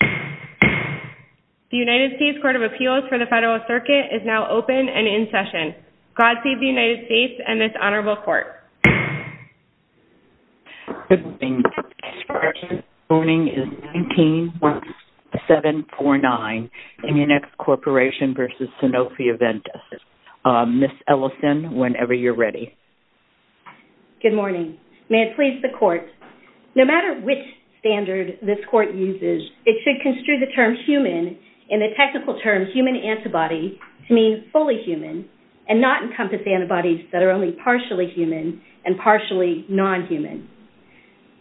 The United States Court of Appeals for the Federal Circuit is now open and in session. Godspeed the United States and this Honorable Court. Good morning. The case for this morning is 171749, Munix Corporation v. Sanofi-Aventis. Ms. Ellison, whenever you're ready. Good morning. May it please the Court, No matter which standard this Court uses, it should construe the term human and the technical term human antibody to mean fully human and not encompass antibodies that are only partially human and partially non-human.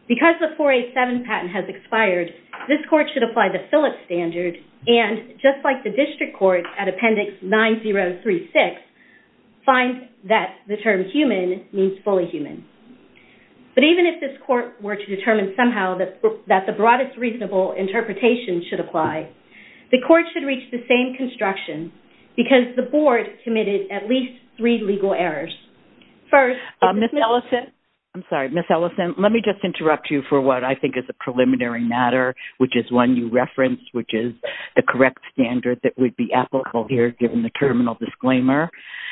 Because the 487 patent has expired, this Court should apply the Phillips standard and just like the District Court at Appendix 9036, find that the term human means fully human. But even if this Court were to determine somehow that the broadest reasonable interpretation should apply, the Court should reach the same construction because the Board committed at least three legal errors. First, Ms. Ellison, I'm sorry, Ms. Ellison, let me just interrupt you for what I think is a preliminary matter which is one you referenced which is the correct standard that would be applicable here given the terminal disclaimer.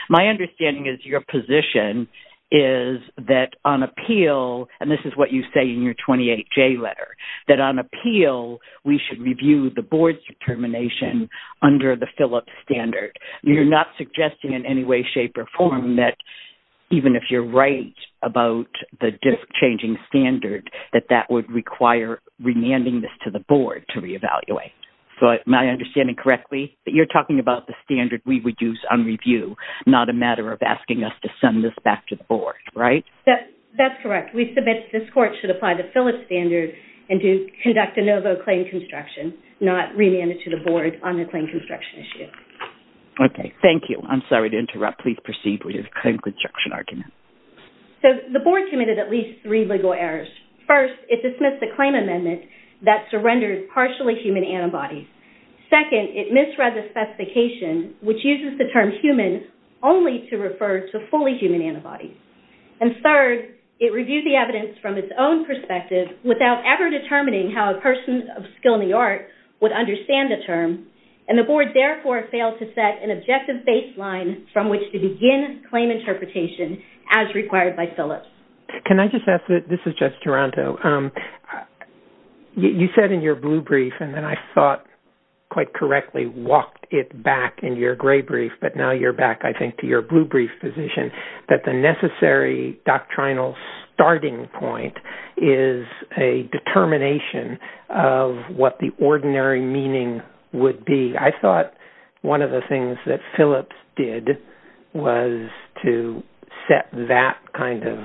My understanding is your position is that on appeal, and this is what you say in your 28J letter, that on appeal we should review the Board's determination under the Phillips standard. You're not suggesting in any way, shape, or form that even if you're right about the changing standard, that that would require remanding this to the Board to reevaluate. So am I understanding correctly that you're talking about the standard we would use on review, not a matter of asking us to send this back to the Board, right? That's correct. We submit that this Court should apply the Phillips standard and to conduct a novo claim construction, not remand it to the Board on the claim construction issue. Okay, thank you. I'm sorry to interrupt. Please proceed with your claim construction argument. So the Board committed at least three legal errors. First, it dismissed the claim amendment that surrendered partially human antibodies. Second, it misread the specification which uses the term human only to refer to fully human antibodies. And third, it reviewed the evidence from its own perspective without ever determining how a person of skill in the art would understand the term, and the Board therefore failed to set an objective baseline from which to begin claim interpretation as required by Phillips. Can I just ask, this is just Toronto, you said in your blue brief, and then I thought quite correctly walked it back in your gray brief, but now you're back I think to your blue brief position, that the necessary doctrinal starting point is a determination of what the ordinary meaning would be. I thought one of the things that Phillips did was to set that kind of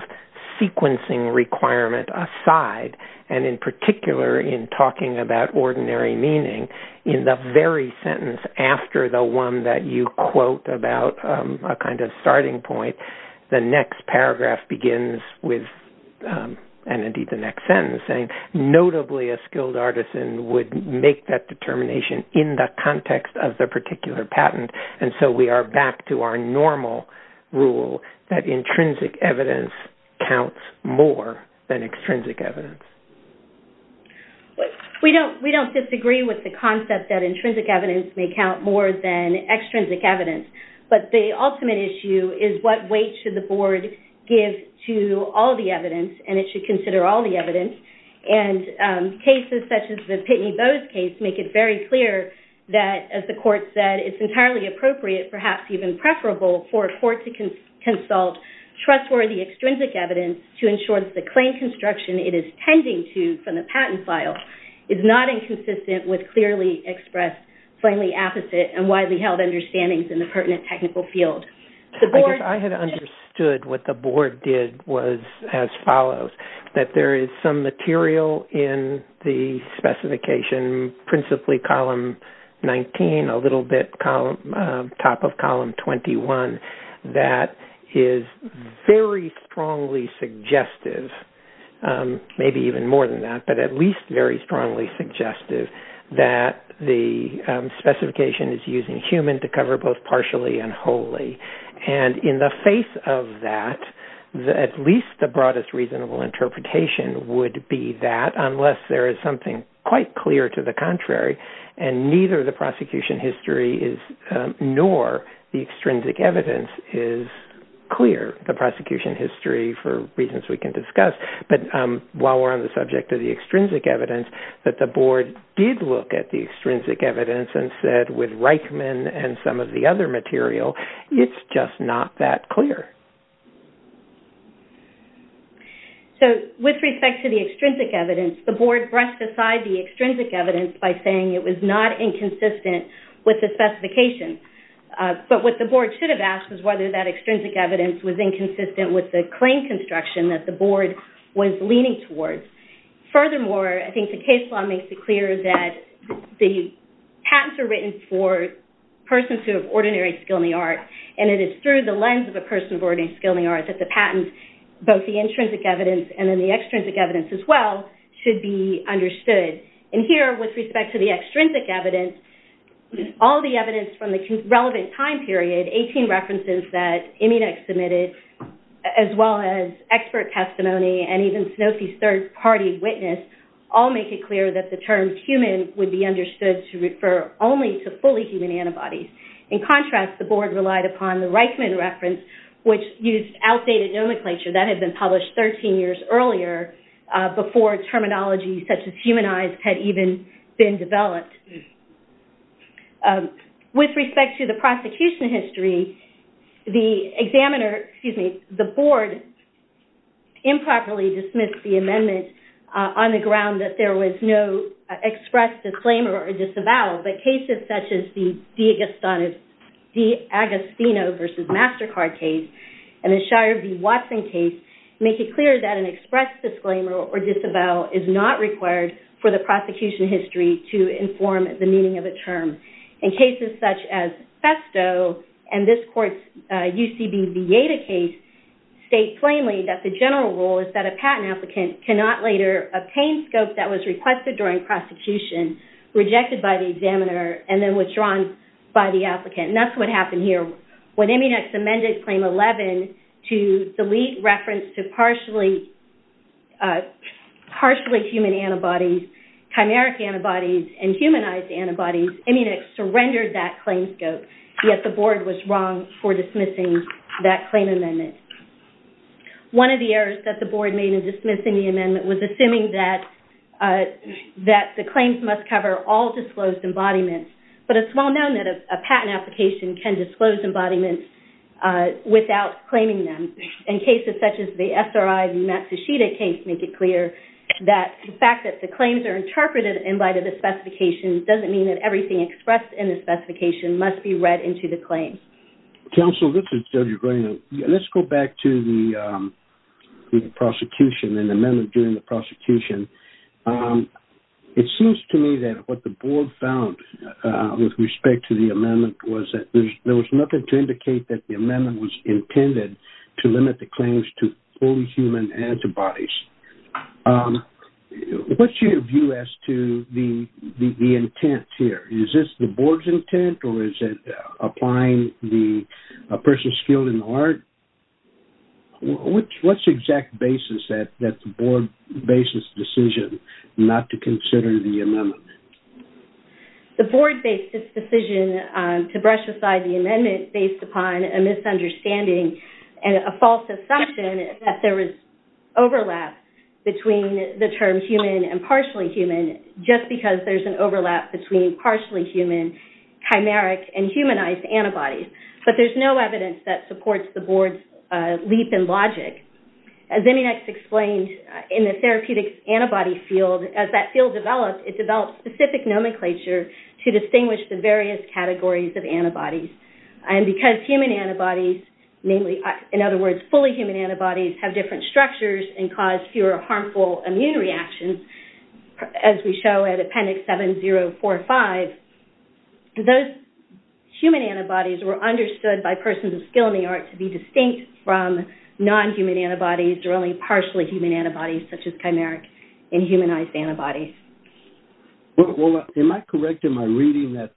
sequencing requirement aside, and in particular in talking about ordinary meaning, in the very sentence after the one that you quote about a kind of starting point, the next paragraph begins with, and indeed the next sentence, notably a skilled artisan would make that determination in the context of the particular patent, and so we are back to our normal rule that intrinsic evidence counts more than extrinsic evidence. We don't disagree with the concept that intrinsic evidence may count more than extrinsic evidence, but the ultimate issue is what weight should the Board give to all the evidence, and it should consider all the evidence, and cases such as the Pitney Bowes case make it very clear that, as the court said, it's entirely appropriate, perhaps even preferable for a court to consult trustworthy extrinsic evidence to ensure that the claim construction it is tending to from the patent file is not inconsistent with clearly expressed plainly apposite and widely held understandings in the pertinent technical field. I guess I had understood what the Board did was as follows, that there is some material in the specification, principally column 19, a little bit top of column 21, that is very strongly suggestive, maybe even more than that, but at least very strongly suggestive, that the specification is using human to cover both partially and wholly, and in the face of that, at least the broadest reasonable interpretation would be that, unless there is something quite clear to the contrary, and neither the prosecution history nor the extrinsic evidence is clear. The prosecution history, for reasons we can discuss, but while we're on the subject of the extrinsic evidence, that the Board did look at the extrinsic evidence and said, with Reichman and some of the other material, it's just not that clear. With respect to the extrinsic evidence, the Board brushed aside the extrinsic evidence by saying it was not inconsistent with the specification. But what the Board should have asked was whether that extrinsic evidence was inconsistent with the claim construction that the Board was leaning towards. Furthermore, I think the case law makes it clear that the patents are written for persons who have ordinary skill in the art, and it is through the lens of a person of ordinary skill in the art that the patents, both the intrinsic evidence and then the extrinsic evidence as well, should be understood. Here, with respect to the extrinsic evidence, all the evidence from the relevant time period, 18 references that Immunex submitted, as well as expert testimony, and even Sanofi's third party witness, all make it clear that the term human would be understood to refer only to fully human antibodies. In contrast, the Board relied upon the Reichman reference, which used outdated nomenclature that had been published 13 years earlier, before terminology such as humanized had even been developed. With respect to the prosecution history, the Board improperly dismissed the amendment on the ground that there was no express disclaimer or disavowal, but cases such as the DiAgostino v. MasterCard case and the Shire v. Watson case make it clear that an express disclaimer or disavowal is not required for the prosecution history to inform the meaning of a term. In cases such as Festo and this court's UCB Vieta case, state plainly that the general rule is that a patent applicant cannot later obtain scope that was requested during prosecution, rejected by the examiner, and then withdrawn by the applicant. And that's what happened here. When Immunex amended Claim 11 to delete reference to partially human antibodies, chimeric antibodies, and humanized antibodies, Immunex surrendered that claim scope, yet the Board was wrong for dismissing that claim amendment. One of the errors that the Board made in dismissing the amendment was assuming that the claims must cover all disclosed embodiments, but it's well known that a patent application can disclose embodiments without claiming them. In cases such as the SRI v. Matsushita case make it clear that the fact that the claims are interpreted and invited to specifications doesn't mean that everything expressed in the specification must be read into the claim. Counsel, this is Judge O'Grady. Let's go back to the prosecution and the amendment during the prosecution. It seems to me that what the Board found with respect to the amendment was that there was nothing to indicate that the amendment was intended to limit the claims to fully human antibodies. What's your view as to the intent here? Is this the Board's intent or is it applying the person skilled in the art? What's the exact basis that the Board based its decision not to consider the amendment? The Board based its decision to brush aside the amendment based upon a misunderstanding and a false assumption that there was overlap between the term human and partially human just because there's an overlap between partially human, chimeric, and humanized antibodies. But there's no evidence that supports the Board's leap in logic. As Eminex explained, in the therapeutic antibody field, as that field developed, it developed specific nomenclature to distinguish the various categories of antibodies. Because human antibodies, in other words, fully human antibodies, have different structures and cause fewer harmful immune reactions, as we show in Appendix 7045, those human antibodies were understood by persons of skill in the art to be distinct from non-human antibodies or only partially human antibodies such as chimeric and humanized antibodies. Well, am I correct in my reading that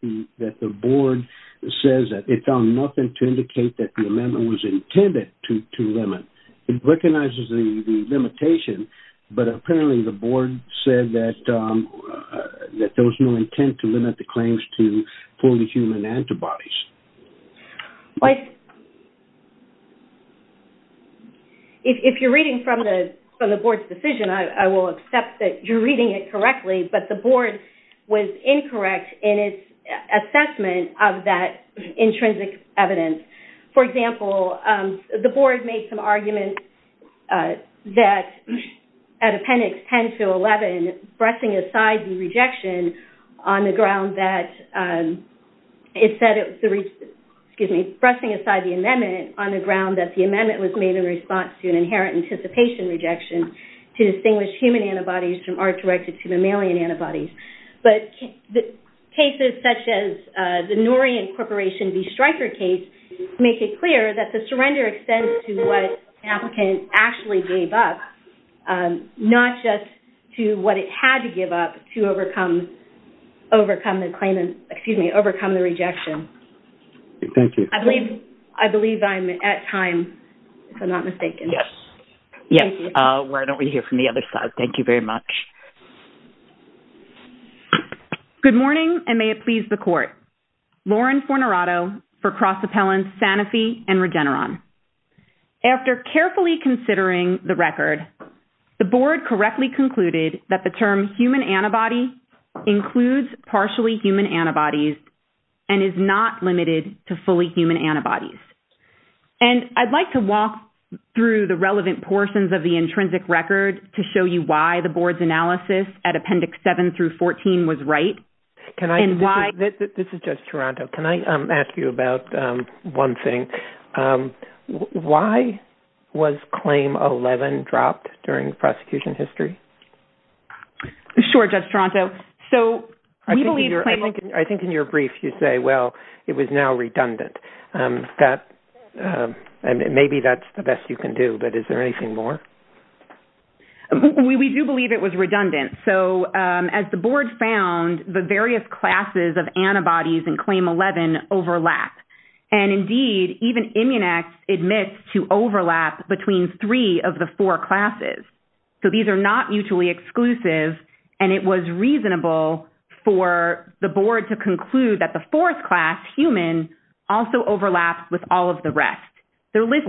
the Board says that it found nothing to indicate that the amendment was intended to limit? It recognizes the limitation, but apparently the Board said that there was no intent to limit the claims to fully human antibodies. If you're reading from the Board's decision, I will accept that you're reading it correctly, but the Board was incorrect in its assessment of that intrinsic evidence. For example, the Board made some arguments that at Appendix 10-11, pressing aside the amendment on the ground that the amendment was made in response to an inherent anticipation rejection to distinguish human antibodies from art-directed mammalian antibodies. But cases such as the Norian Corporation v. Stryker case make it clear that the surrender extends to what an applicant actually gave up, not just to what it had to give up to overcome the rejection. Thank you. I believe I'm at time, if I'm not mistaken. Yes. Why don't we hear from the other side? Thank you very much. Good morning, and may it please the Court. Lauren Fornerato for Cross Appellant Sanofi and Regeneron. After carefully considering the record, the Board correctly concluded that the term human antibody includes partially human antibodies and is not limited to fully human antibodies. I'd like to walk through the relevant portions of the intrinsic record to show you why the Board's analysis at Appendix 7-14 was right. This is Judge Toronto. Can I ask you about one thing? Why was Claim 11 dropped during prosecution history? Sure, Judge Toronto. I think in your brief you say, well, it was now redundant. Maybe that's the best you can do, but is there anything more? We do believe it was redundant. As the Board found, the various classes of antibodies in Claim 11 overlap. Indeed, even Immunex admits to overlap between three of the four classes. These are not mutually exclusive, and it was reasonable for the Board to conclude that the fourth class, human, also overlaps with all of the rest. Let me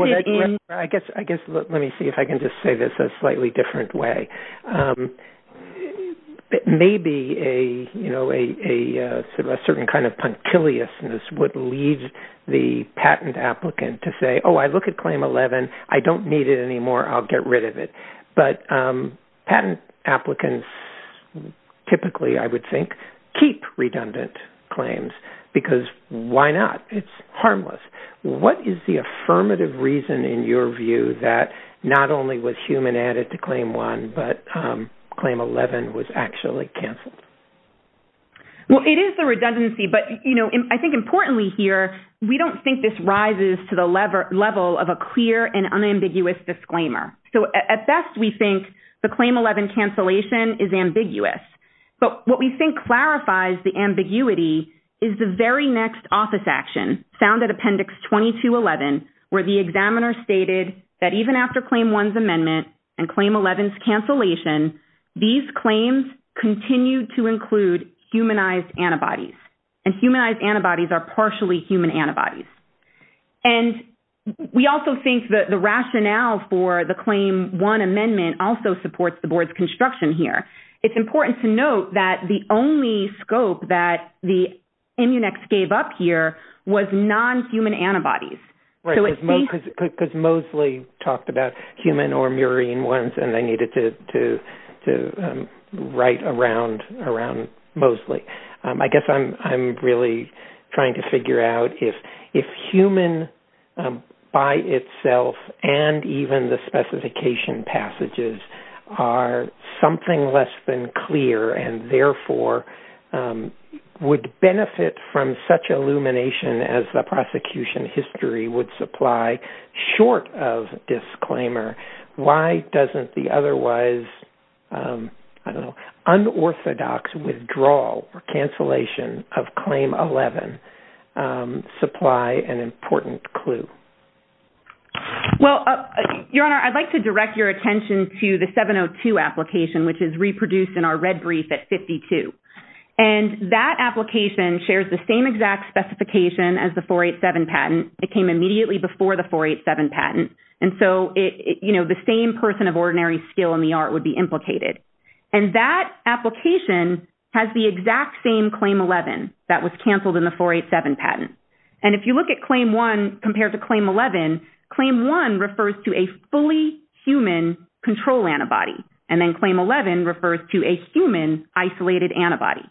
see if I can just say this a slightly different way. Maybe a certain kind of punctiliousness would lead the patent applicant to say, oh, I look at Claim 11, I don't need it anymore, I'll get rid of it. Patent applicants typically, I would think, keep redundant claims, because why not? It's harmless. What is the affirmative reason in your view that not only was human added to Claim 1, but Claim 11 was actually canceled? It is the redundancy, but I think importantly here, we don't think this rises to the level of a clear and unambiguous disclaimer. At best, we think the Claim 11 cancellation is ambiguous, but what we think clarifies the ambiguity is the very next office action, found at Appendix 2211, where the examiner stated that even after Claim 1's amendment and Claim 11's cancellation, these claims continue to include humanized antibodies, and humanized antibodies are partially human antibodies. We also think that the rationale for the Claim 1 amendment also supports the board's construction here. It's important to note that the only scope that the Immunex gave up here was non-human antibodies. Right, because Moseley talked about human or murine ones, and they needed to write around Moseley. I guess I'm really trying to figure out if human by itself and even the specification passages are something less than clear and therefore would benefit from such illumination as the prosecution history would supply, short of disclaimer, why doesn't the otherwise unorthodox withdrawal or cancellation of Claim 11 supply an important clue? Your Honor, I'd like to direct your attention to the 702 application, which is reproduced in our red brief at 52. That application shares the same exact specification as the 487 patent. It came immediately before the 487 patent. The same person of ordinary skill in the art would be implicated. That application has the exact same Claim 11 that was canceled in the 487 patent. If you look at Claim 1 compared to Claim 11, Claim 1 refers to a fully human control antibody, and then Claim 11 refers to a human isolated antibody.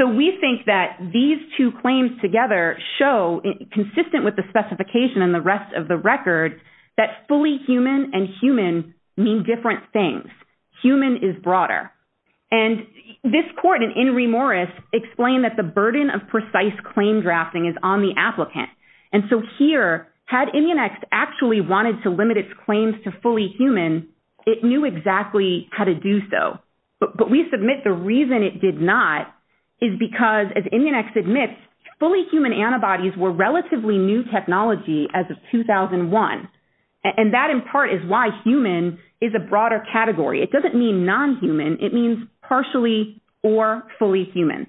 We think that these two claims together show, consistent with the specification and the rest of the record, that fully human and human mean different things. Human is broader. This court in In re Moris explained that the burden of precise claim drafting is on the applicant. Here, had Immunex actually wanted to limit its claims to fully human, it knew exactly how to do so. But we submit the reason it did not is because, as Immunex admits, fully human antibodies were relatively new technology as of 2001. That, in part, is why human is a broader category. It doesn't mean non-human. It means partially or fully human.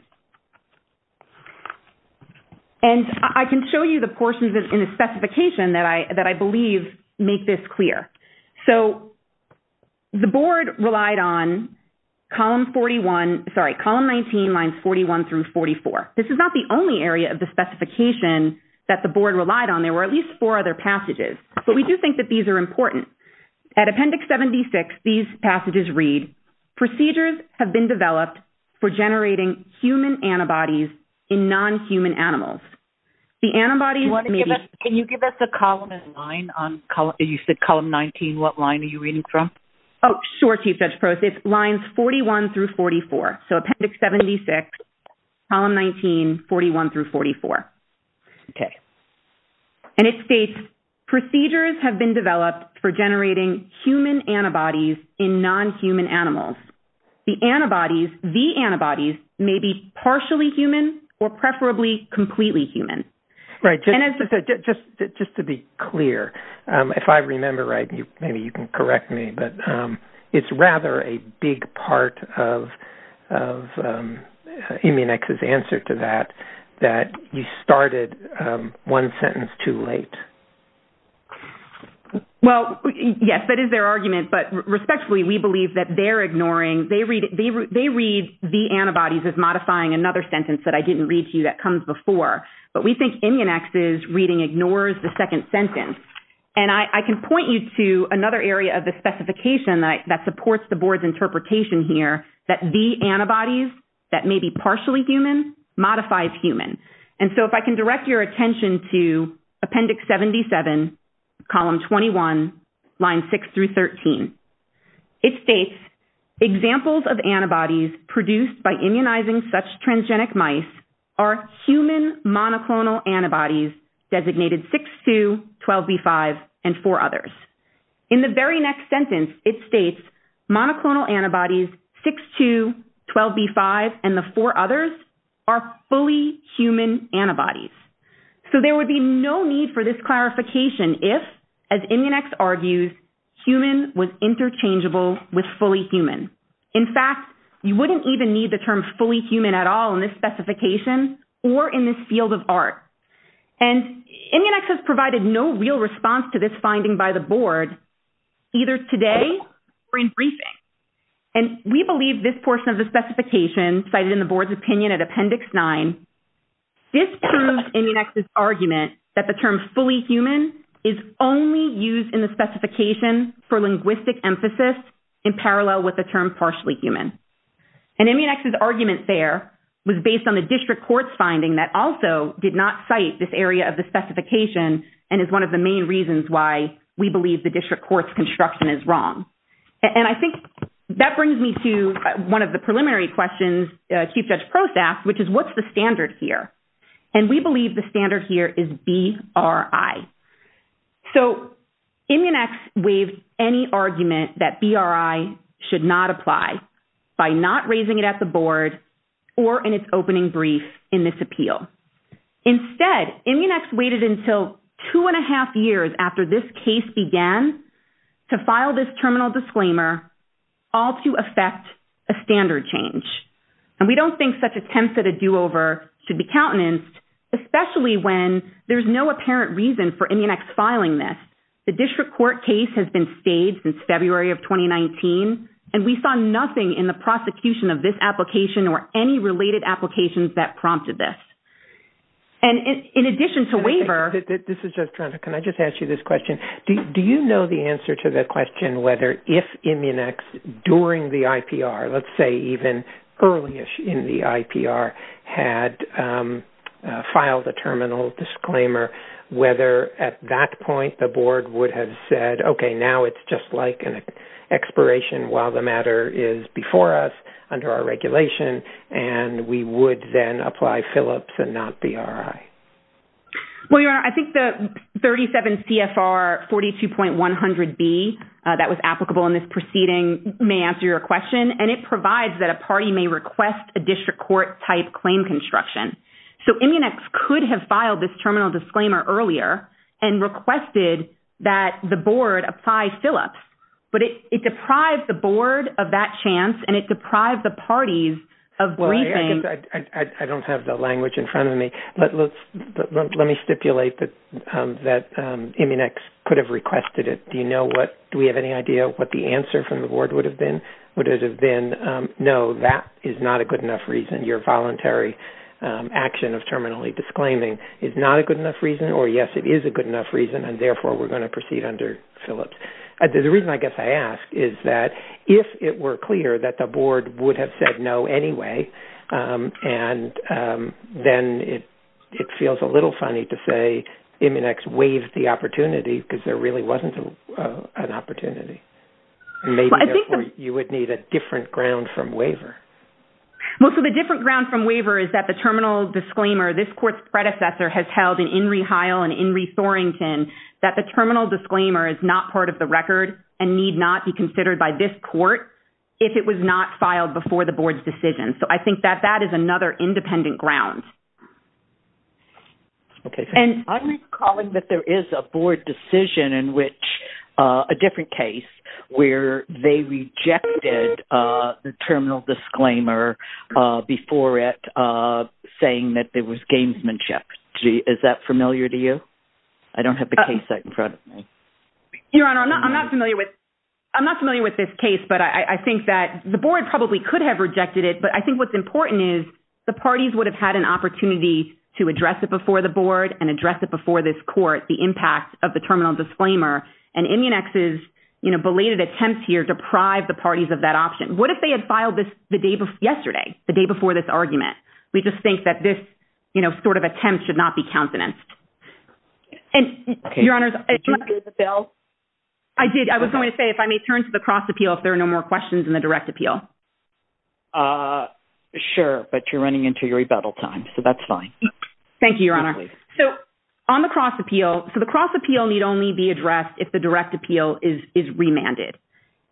I can show you the portions in the specification that I believe make this clear. The board relied on Column 19, Lines 41 through 44. This is not the only area of the specification that the board relied on. There were at least four other passages. But we do think that these are important. At Appendix 76, these passages read, Procedures have been developed for generating human antibodies in non-human animals. The antibodies may be Can you give us a column and line? You said Column 19. What line are you reading from? Oh, sure, Chief Judge Prost. It's Lines 41 through 44. So Appendix 76, Column 19, 41 through 44. Okay. And it states, Procedures have been developed for generating human antibodies in non-human animals. The antibodies may be partially human or preferably completely human. Right. Just to be clear, if I remember right, maybe you can correct me, but it's rather a big part of Immunex's answer to that, that you started one sentence too late. Well, yes, that is their argument. But respectfully, we believe that they're ignoring. They read the antibodies as modifying another sentence that I didn't read to you that comes before. But we think Immunex's reading ignores the second sentence. And I can point you to another area of the specification that supports the board's interpretation here, that the antibodies that may be partially human modifies human. And so if I can direct your attention to Appendix 77, Column 21, Lines 6 through 13. It states, Examples of antibodies produced by immunizing such transgenic mice are human monoclonal antibodies designated 6-2, 12B5, and four others. In the very next sentence, it states, Monoclonal antibodies 6-2, 12B5, and the four others are fully human antibodies. So there would be no need for this clarification if, as Immunex argues, human was interchangeable with fully human. In fact, you wouldn't even need the term fully human at all in this specification or in this field of art. And Immunex has provided no real response to this finding by the board, either today or in briefing. And we believe this portion of the specification, cited in the board's opinion at Appendix 9, disproves Immunex's argument that the term fully human is only used in the term partially human. And Immunex's argument there was based on the district court's finding that also did not cite this area of the specification and is one of the main reasons why we believe the district court's construction is wrong. And I think that brings me to one of the preliminary questions Chief Judge Prost asked, which is what's the standard here? And we believe the standard here is BRI. So Immunex waived any argument that BRI should not apply by not raising it at the board or in its opening brief in this appeal. Instead, Immunex waited until two and a half years after this case began to file this terminal disclaimer, all to effect a standard change. And we don't think such attempts at a do-over should be countenanced, especially when there's no apparent reason for Immunex filing this. The district court case has been staged since February of 2019, and we saw nothing in the prosecution of this application or any related applications that prompted this. And in addition to waiver — This is just trying to — can I just ask you this question? Do you know the answer to the question whether if Immunex during the IPR, let's say even early in the IPR, had filed a terminal disclaimer, whether at that point the board would have said, okay, now it's just like an expiration while the matter is before us under our regulation, and we would then apply Philips and not BRI? Well, Your Honor, I think the 37 CFR 42.100B that was applicable in this proceeding may answer your question. And it provides that a party may request a district court-type claim construction. So Immunex could have filed this terminal disclaimer earlier and requested that the board apply Philips. But it deprived the board of that chance, and it deprived the parties of briefing. I don't have the language in front of me. But let me stipulate that Immunex could have requested it. Do you know what — do we have any idea what the answer from the board would have been? No, that is not a good enough reason. Your voluntary action of terminally disclaiming is not a good enough reason, or yes, it is a good enough reason, and therefore we're going to proceed under Philips. The reason I guess I ask is that if it were clear that the board would have said no anyway, and then it feels a little funny to say Immunex waived the opportunity because there really wasn't an opportunity. Maybe, therefore, you would need a different ground from waiver. Well, so the different ground from waiver is that the terminal disclaimer, this court's predecessor has held in Inree Heil and Inree Thorington, that the terminal disclaimer is not part of the record and need not be considered by this court if it was not filed before the board's decision. So I think that that is another independent ground. Okay. I'm recalling that there is a board decision in which a different case, where they rejected the terminal disclaimer before it, saying that there was gamesmanship. Is that familiar to you? I don't have the case in front of me. Your Honor, I'm not familiar with this case, but I think that the board probably could have rejected it, but I think what's important is the parties would have had an opportunity to address it before the board and address it before this court, the impact of the terminal disclaimer. And Immunex's, you know, belated attempts here, deprive the parties of that option. What if they had filed this the day before yesterday, the day before this argument, we just think that this sort of attempt should not be countenanced. Okay. Your Honor. Did you hear the bill? I did. I was going to say, if I may turn to the cross appeal, if there are no more questions in the direct appeal. Sure. But you're running into your rebuttal time. So that's fine. Thank you, Your Honor. So on the cross appeal. So the cross appeal need only be addressed if the direct appeal is, is remanded.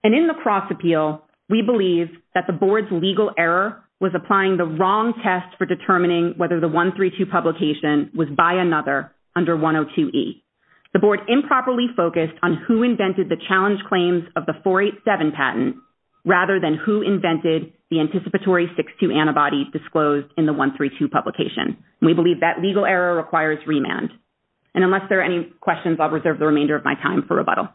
And in the cross appeal, we believe that the board's legal error was applying the wrong test for determining whether the one three, two publication was by another under one Oh two E the board improperly focused on who invented the challenge claims of the four, eight seven patent. Rather than who invented the anticipatory six, two antibodies disclosed in the one three, two publication. And we believe that legal error requires remand. And unless there are any questions, I'll reserve the remainder of my time for rebuttal.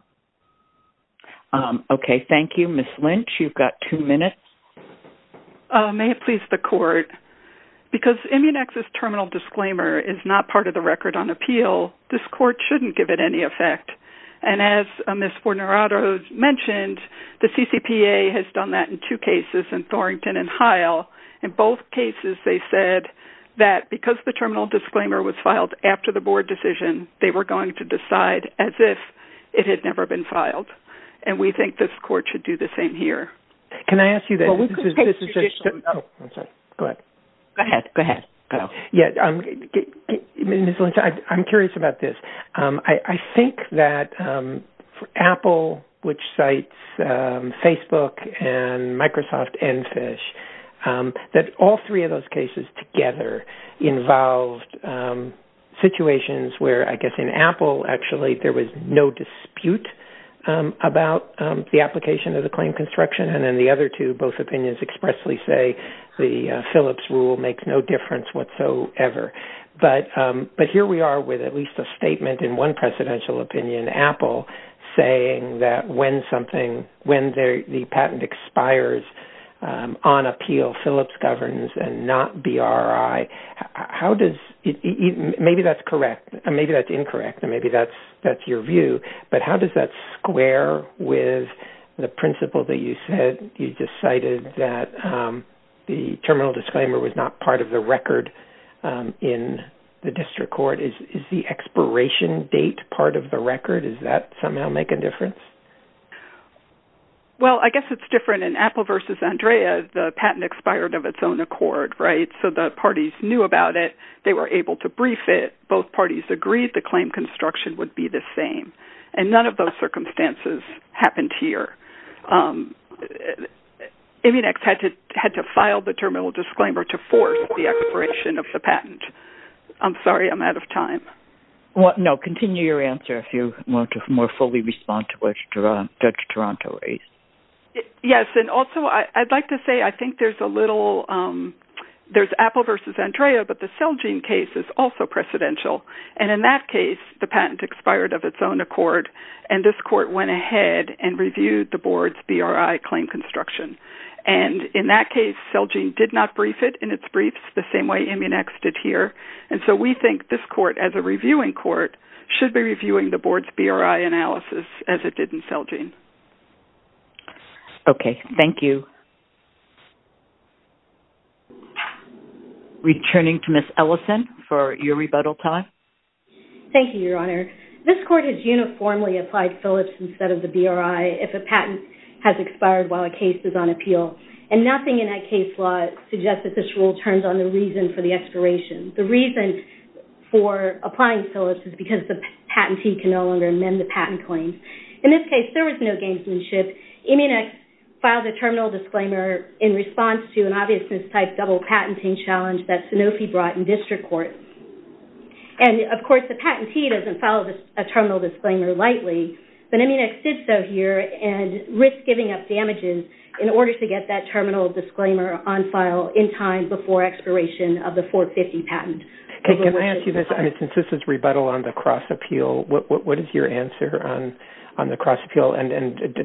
Okay. Thank you, Ms. Lynch. You've got two minutes. May it please the court. Because immune access terminal disclaimer is not part of the record on appeal. This court shouldn't give it any effect. And as Ms. Fornerato mentioned, the CCPA has done that in two cases in Thornton and Heil. In both cases, they said that because the terminal disclaimer was filed after the board decision, they were going to decide as if it had never been filed. And we think this court should do the same here. Can I ask you that? Oh, I'm sorry. Go ahead. Go ahead. Go ahead. Yeah. I'm curious about this. I think that for Apple, which sites Facebook and Microsoft and fish that all three of those cases together involved situations where I guess in Apple, actually, there was no dispute about the application of the claim construction. And then the other two, both opinions expressly say the Phillips rule makes no difference whatsoever. But, but here we are with at least a statement in one presidential opinion, Apple saying that when something, when the patent expires on appeal, Phillips governs and not BRI. How does it, maybe that's correct. Maybe that's incorrect. And maybe that's, that's your view, but how does that square with the principle that you said you decided that the terminal disclaimer was not part of the record in the district court is the expiration date. Part of the record is that somehow make a difference? Well, I guess it's different in Apple versus Andrea. The patent expired of its own accord, right? So the parties knew about it. They were able to brief it. Both parties agreed. The claim construction would be the same. And none of those circumstances happened here. I mean, I had to, had to file the terminal disclaimer to force the expiration of the patent. I'm sorry. I'm out of time. What? No, continue your answer. If you want to more fully respond to which Toronto, yes. And also I'd like to say, I think there's a little, there's Apple versus Andrea, but the cell gene case is also precedential. And in that case, the patent expired of its own accord. And this court went ahead and reviewed the board's BRI claim construction. And in that case, cell gene did not brief it in its briefs the same way. I mean, next did here. And so we think this court as a reviewing court should be reviewing the board's BRI analysis as it didn't sell gene. Okay. Thank you. Returning to Miss Ellison for your rebuttal time. Thank you, Your Honor. This court has uniformly applied Phillips instead of the BRI. If a patent has expired while a case is on appeal and nothing in that case law suggests that this rule turns on the reason for the expiration. The reason for applying Phillips is because the patentee can no longer amend the patent claims. In this case, if there was no gamesmanship, Immunex filed a terminal disclaimer in response to an obviousness type double patenting challenge that Sanofi brought in district court. And of course, the patentee doesn't follow a terminal disclaimer lightly, but Immunex did so here and risk giving up damages in order to get that terminal disclaimer on file in time before expiration of the 450 patent. Okay. Can I ask you this? I mean, since this is rebuttal on the cross appeal, what is your answer on the cross appeal? And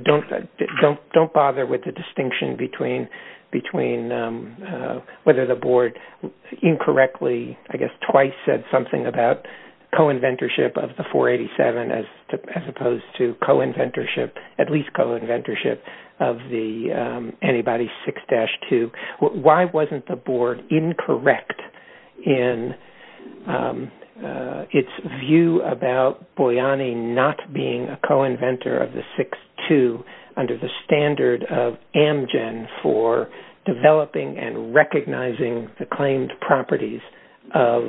don't bother with the distinction between whether the board incorrectly, I guess twice said something about co-inventorship of the 487 as opposed to co-inventorship, at least co-inventorship of the antibody 6-2. Why wasn't the board incorrect in its view about Boyani not being a co-inventor of the 6-2 under the standard of Amgen for developing and recognizing the claimed properties of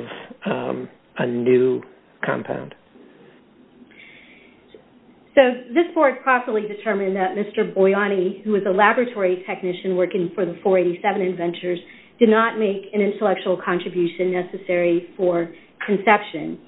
a new compound? So this board possibly determined that Mr. Boyani, who was a laboratory technician working for the 487 inventors did not make an intellectual contribution necessary for conception.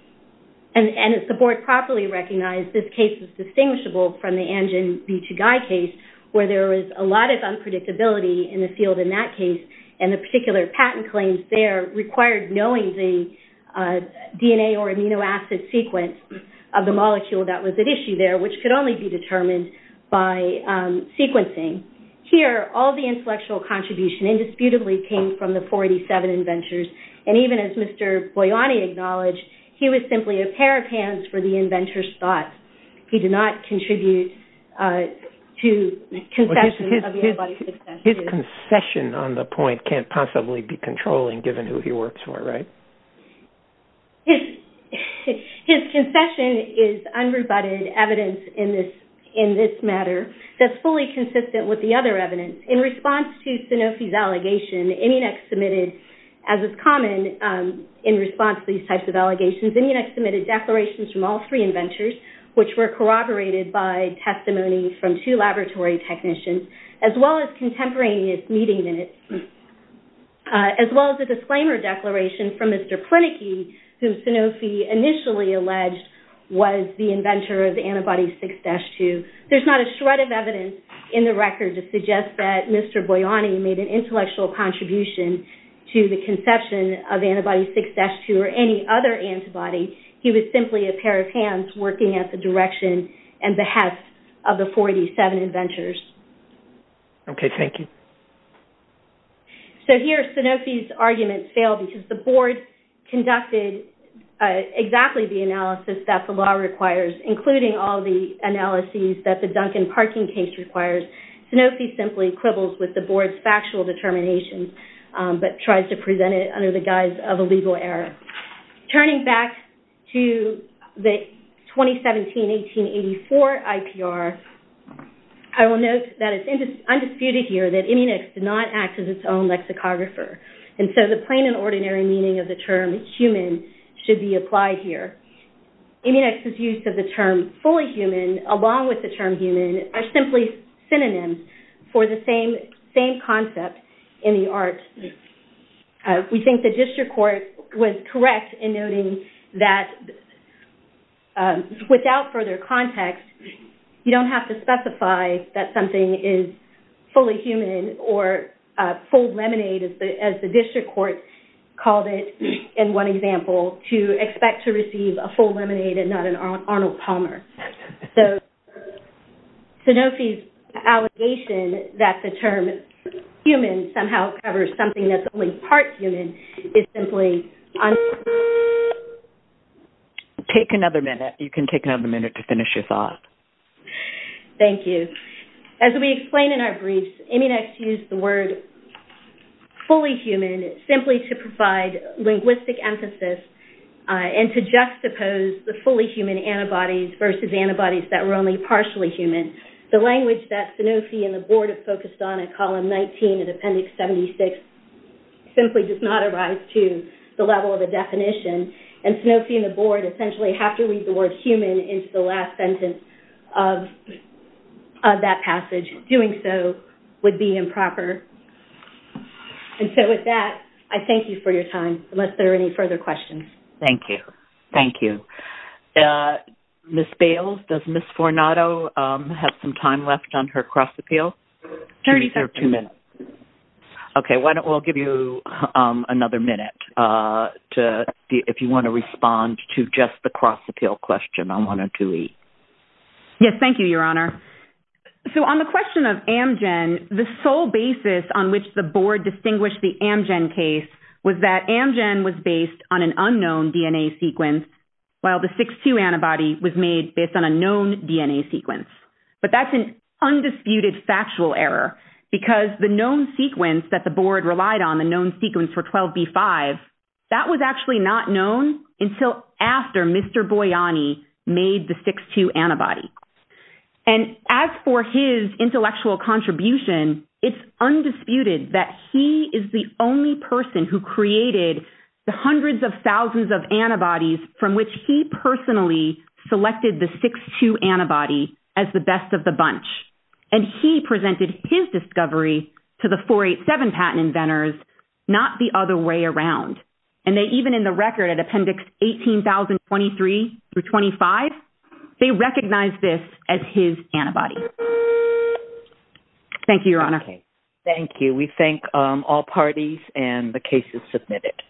And as the board properly recognized, this case is distinguishable from the Amgen B2Guy case where there was a lot of unpredictability in the field in that case and the particular patent claims there required knowing the DNA or amino acid sequence of the molecule that was at issue there, which could only be determined by sequencing. Here, all the intellectual contribution indisputably came from the 487 inventors. And even as Mr. Boyani acknowledged, he was simply a pair of hands for the inventor's thoughts. He did not contribute to conception of the antibody 6-2. His concession on the point can't possibly be controlling given who he works for, right? His concession is unrebutted evidence in this matter that's fully consistent with the other evidence. In response to Sanofi's allegation, Inunix submitted, as is common in response to these types of allegations, Inunix submitted declarations from all three inventors, which were corroborated by testimony from two laboratory technicians, as well as contemporaneous meeting minutes, as well as a disclaimer declaration from Mr. Plineke, whom Sanofi initially alleged was the inventor of the antibody 6-2. There's not a shred of evidence in the record to suggest that Mr. Boyani made an intellectual contribution to the conception of antibody 6-2 or any other antibody. He was simply a pair of hands working at the direction and behest of the 487 inventors. Okay. Thank you. So here, Sanofi's arguments fail because the board conducted exactly the analysis that the law requires, including all the analyses that the Duncan parking case requires. Sanofi simply quibbles with the board's factual determination, but tries to present it under the guise of a legal error. Turning back to the 2017-1884 IPR, I will note that it's undisputed here that Inunix did not act as its own lexicographer. And so the plain and ordinary meaning of the term human should be applied here. Inunix's use of the term fully human along with the term human are simply synonyms for the same concept in the art. We think the district court was correct in noting that without further context, you don't have to specify that something is fully human or full lemonade, as the district court called it in one example, to expect to receive a full lemonade and not an Arnold Palmer. So Sanofi's allegation that the term human somehow covers something that's only part human is simply un- Take another minute. You can take another minute to finish your thought. Thank you. As we explained in our brief, Inunix used the word fully human simply to provide linguistic emphasis and to juxtapose the fully human antibodies versus antibodies that were only partially human. The language that Sanofi and the board have focused on in column 19 of appendix 76 simply does not arise to the level of the definition. And Sanofi and the board essentially have to read the word human into the last sentence of that passage. Doing so would be improper. And so with that, I thank you for your time, unless there are any further questions. Thank you. Thank you. Ms. Bales, does Ms. Fornato have some time left on her cross-appeal? 30 seconds. Two minutes. Okay. Why don't we all give you another minute if you want to respond to just the cross-appeal question on 102E. Yes, thank you, Your Honor. So on the question of Amgen, the sole basis on which the board distinguished the Amgen case was that Amgen was based on an unknown DNA sequence, while the 6-2 antibody was made based on a known DNA sequence. But that's an undisputed factual error, because the known sequence that the board relied on, the known sequence for 12B5, that was actually not known until after Mr. Boiani made the 6-2 antibody. And as for his intellectual contribution, it's undisputed that he is the only person who created the hundreds of thousands of antibodies from which he personally selected the 6-2 antibody as the best of the bunch. And he presented his discovery to the 487 patent inventors, not the other way around. And they even in the record at Appendix 18,023 through 25, they recognized this as his antibody. Thank you, Your Honor. Thank you. We thank all parties and the cases submitted.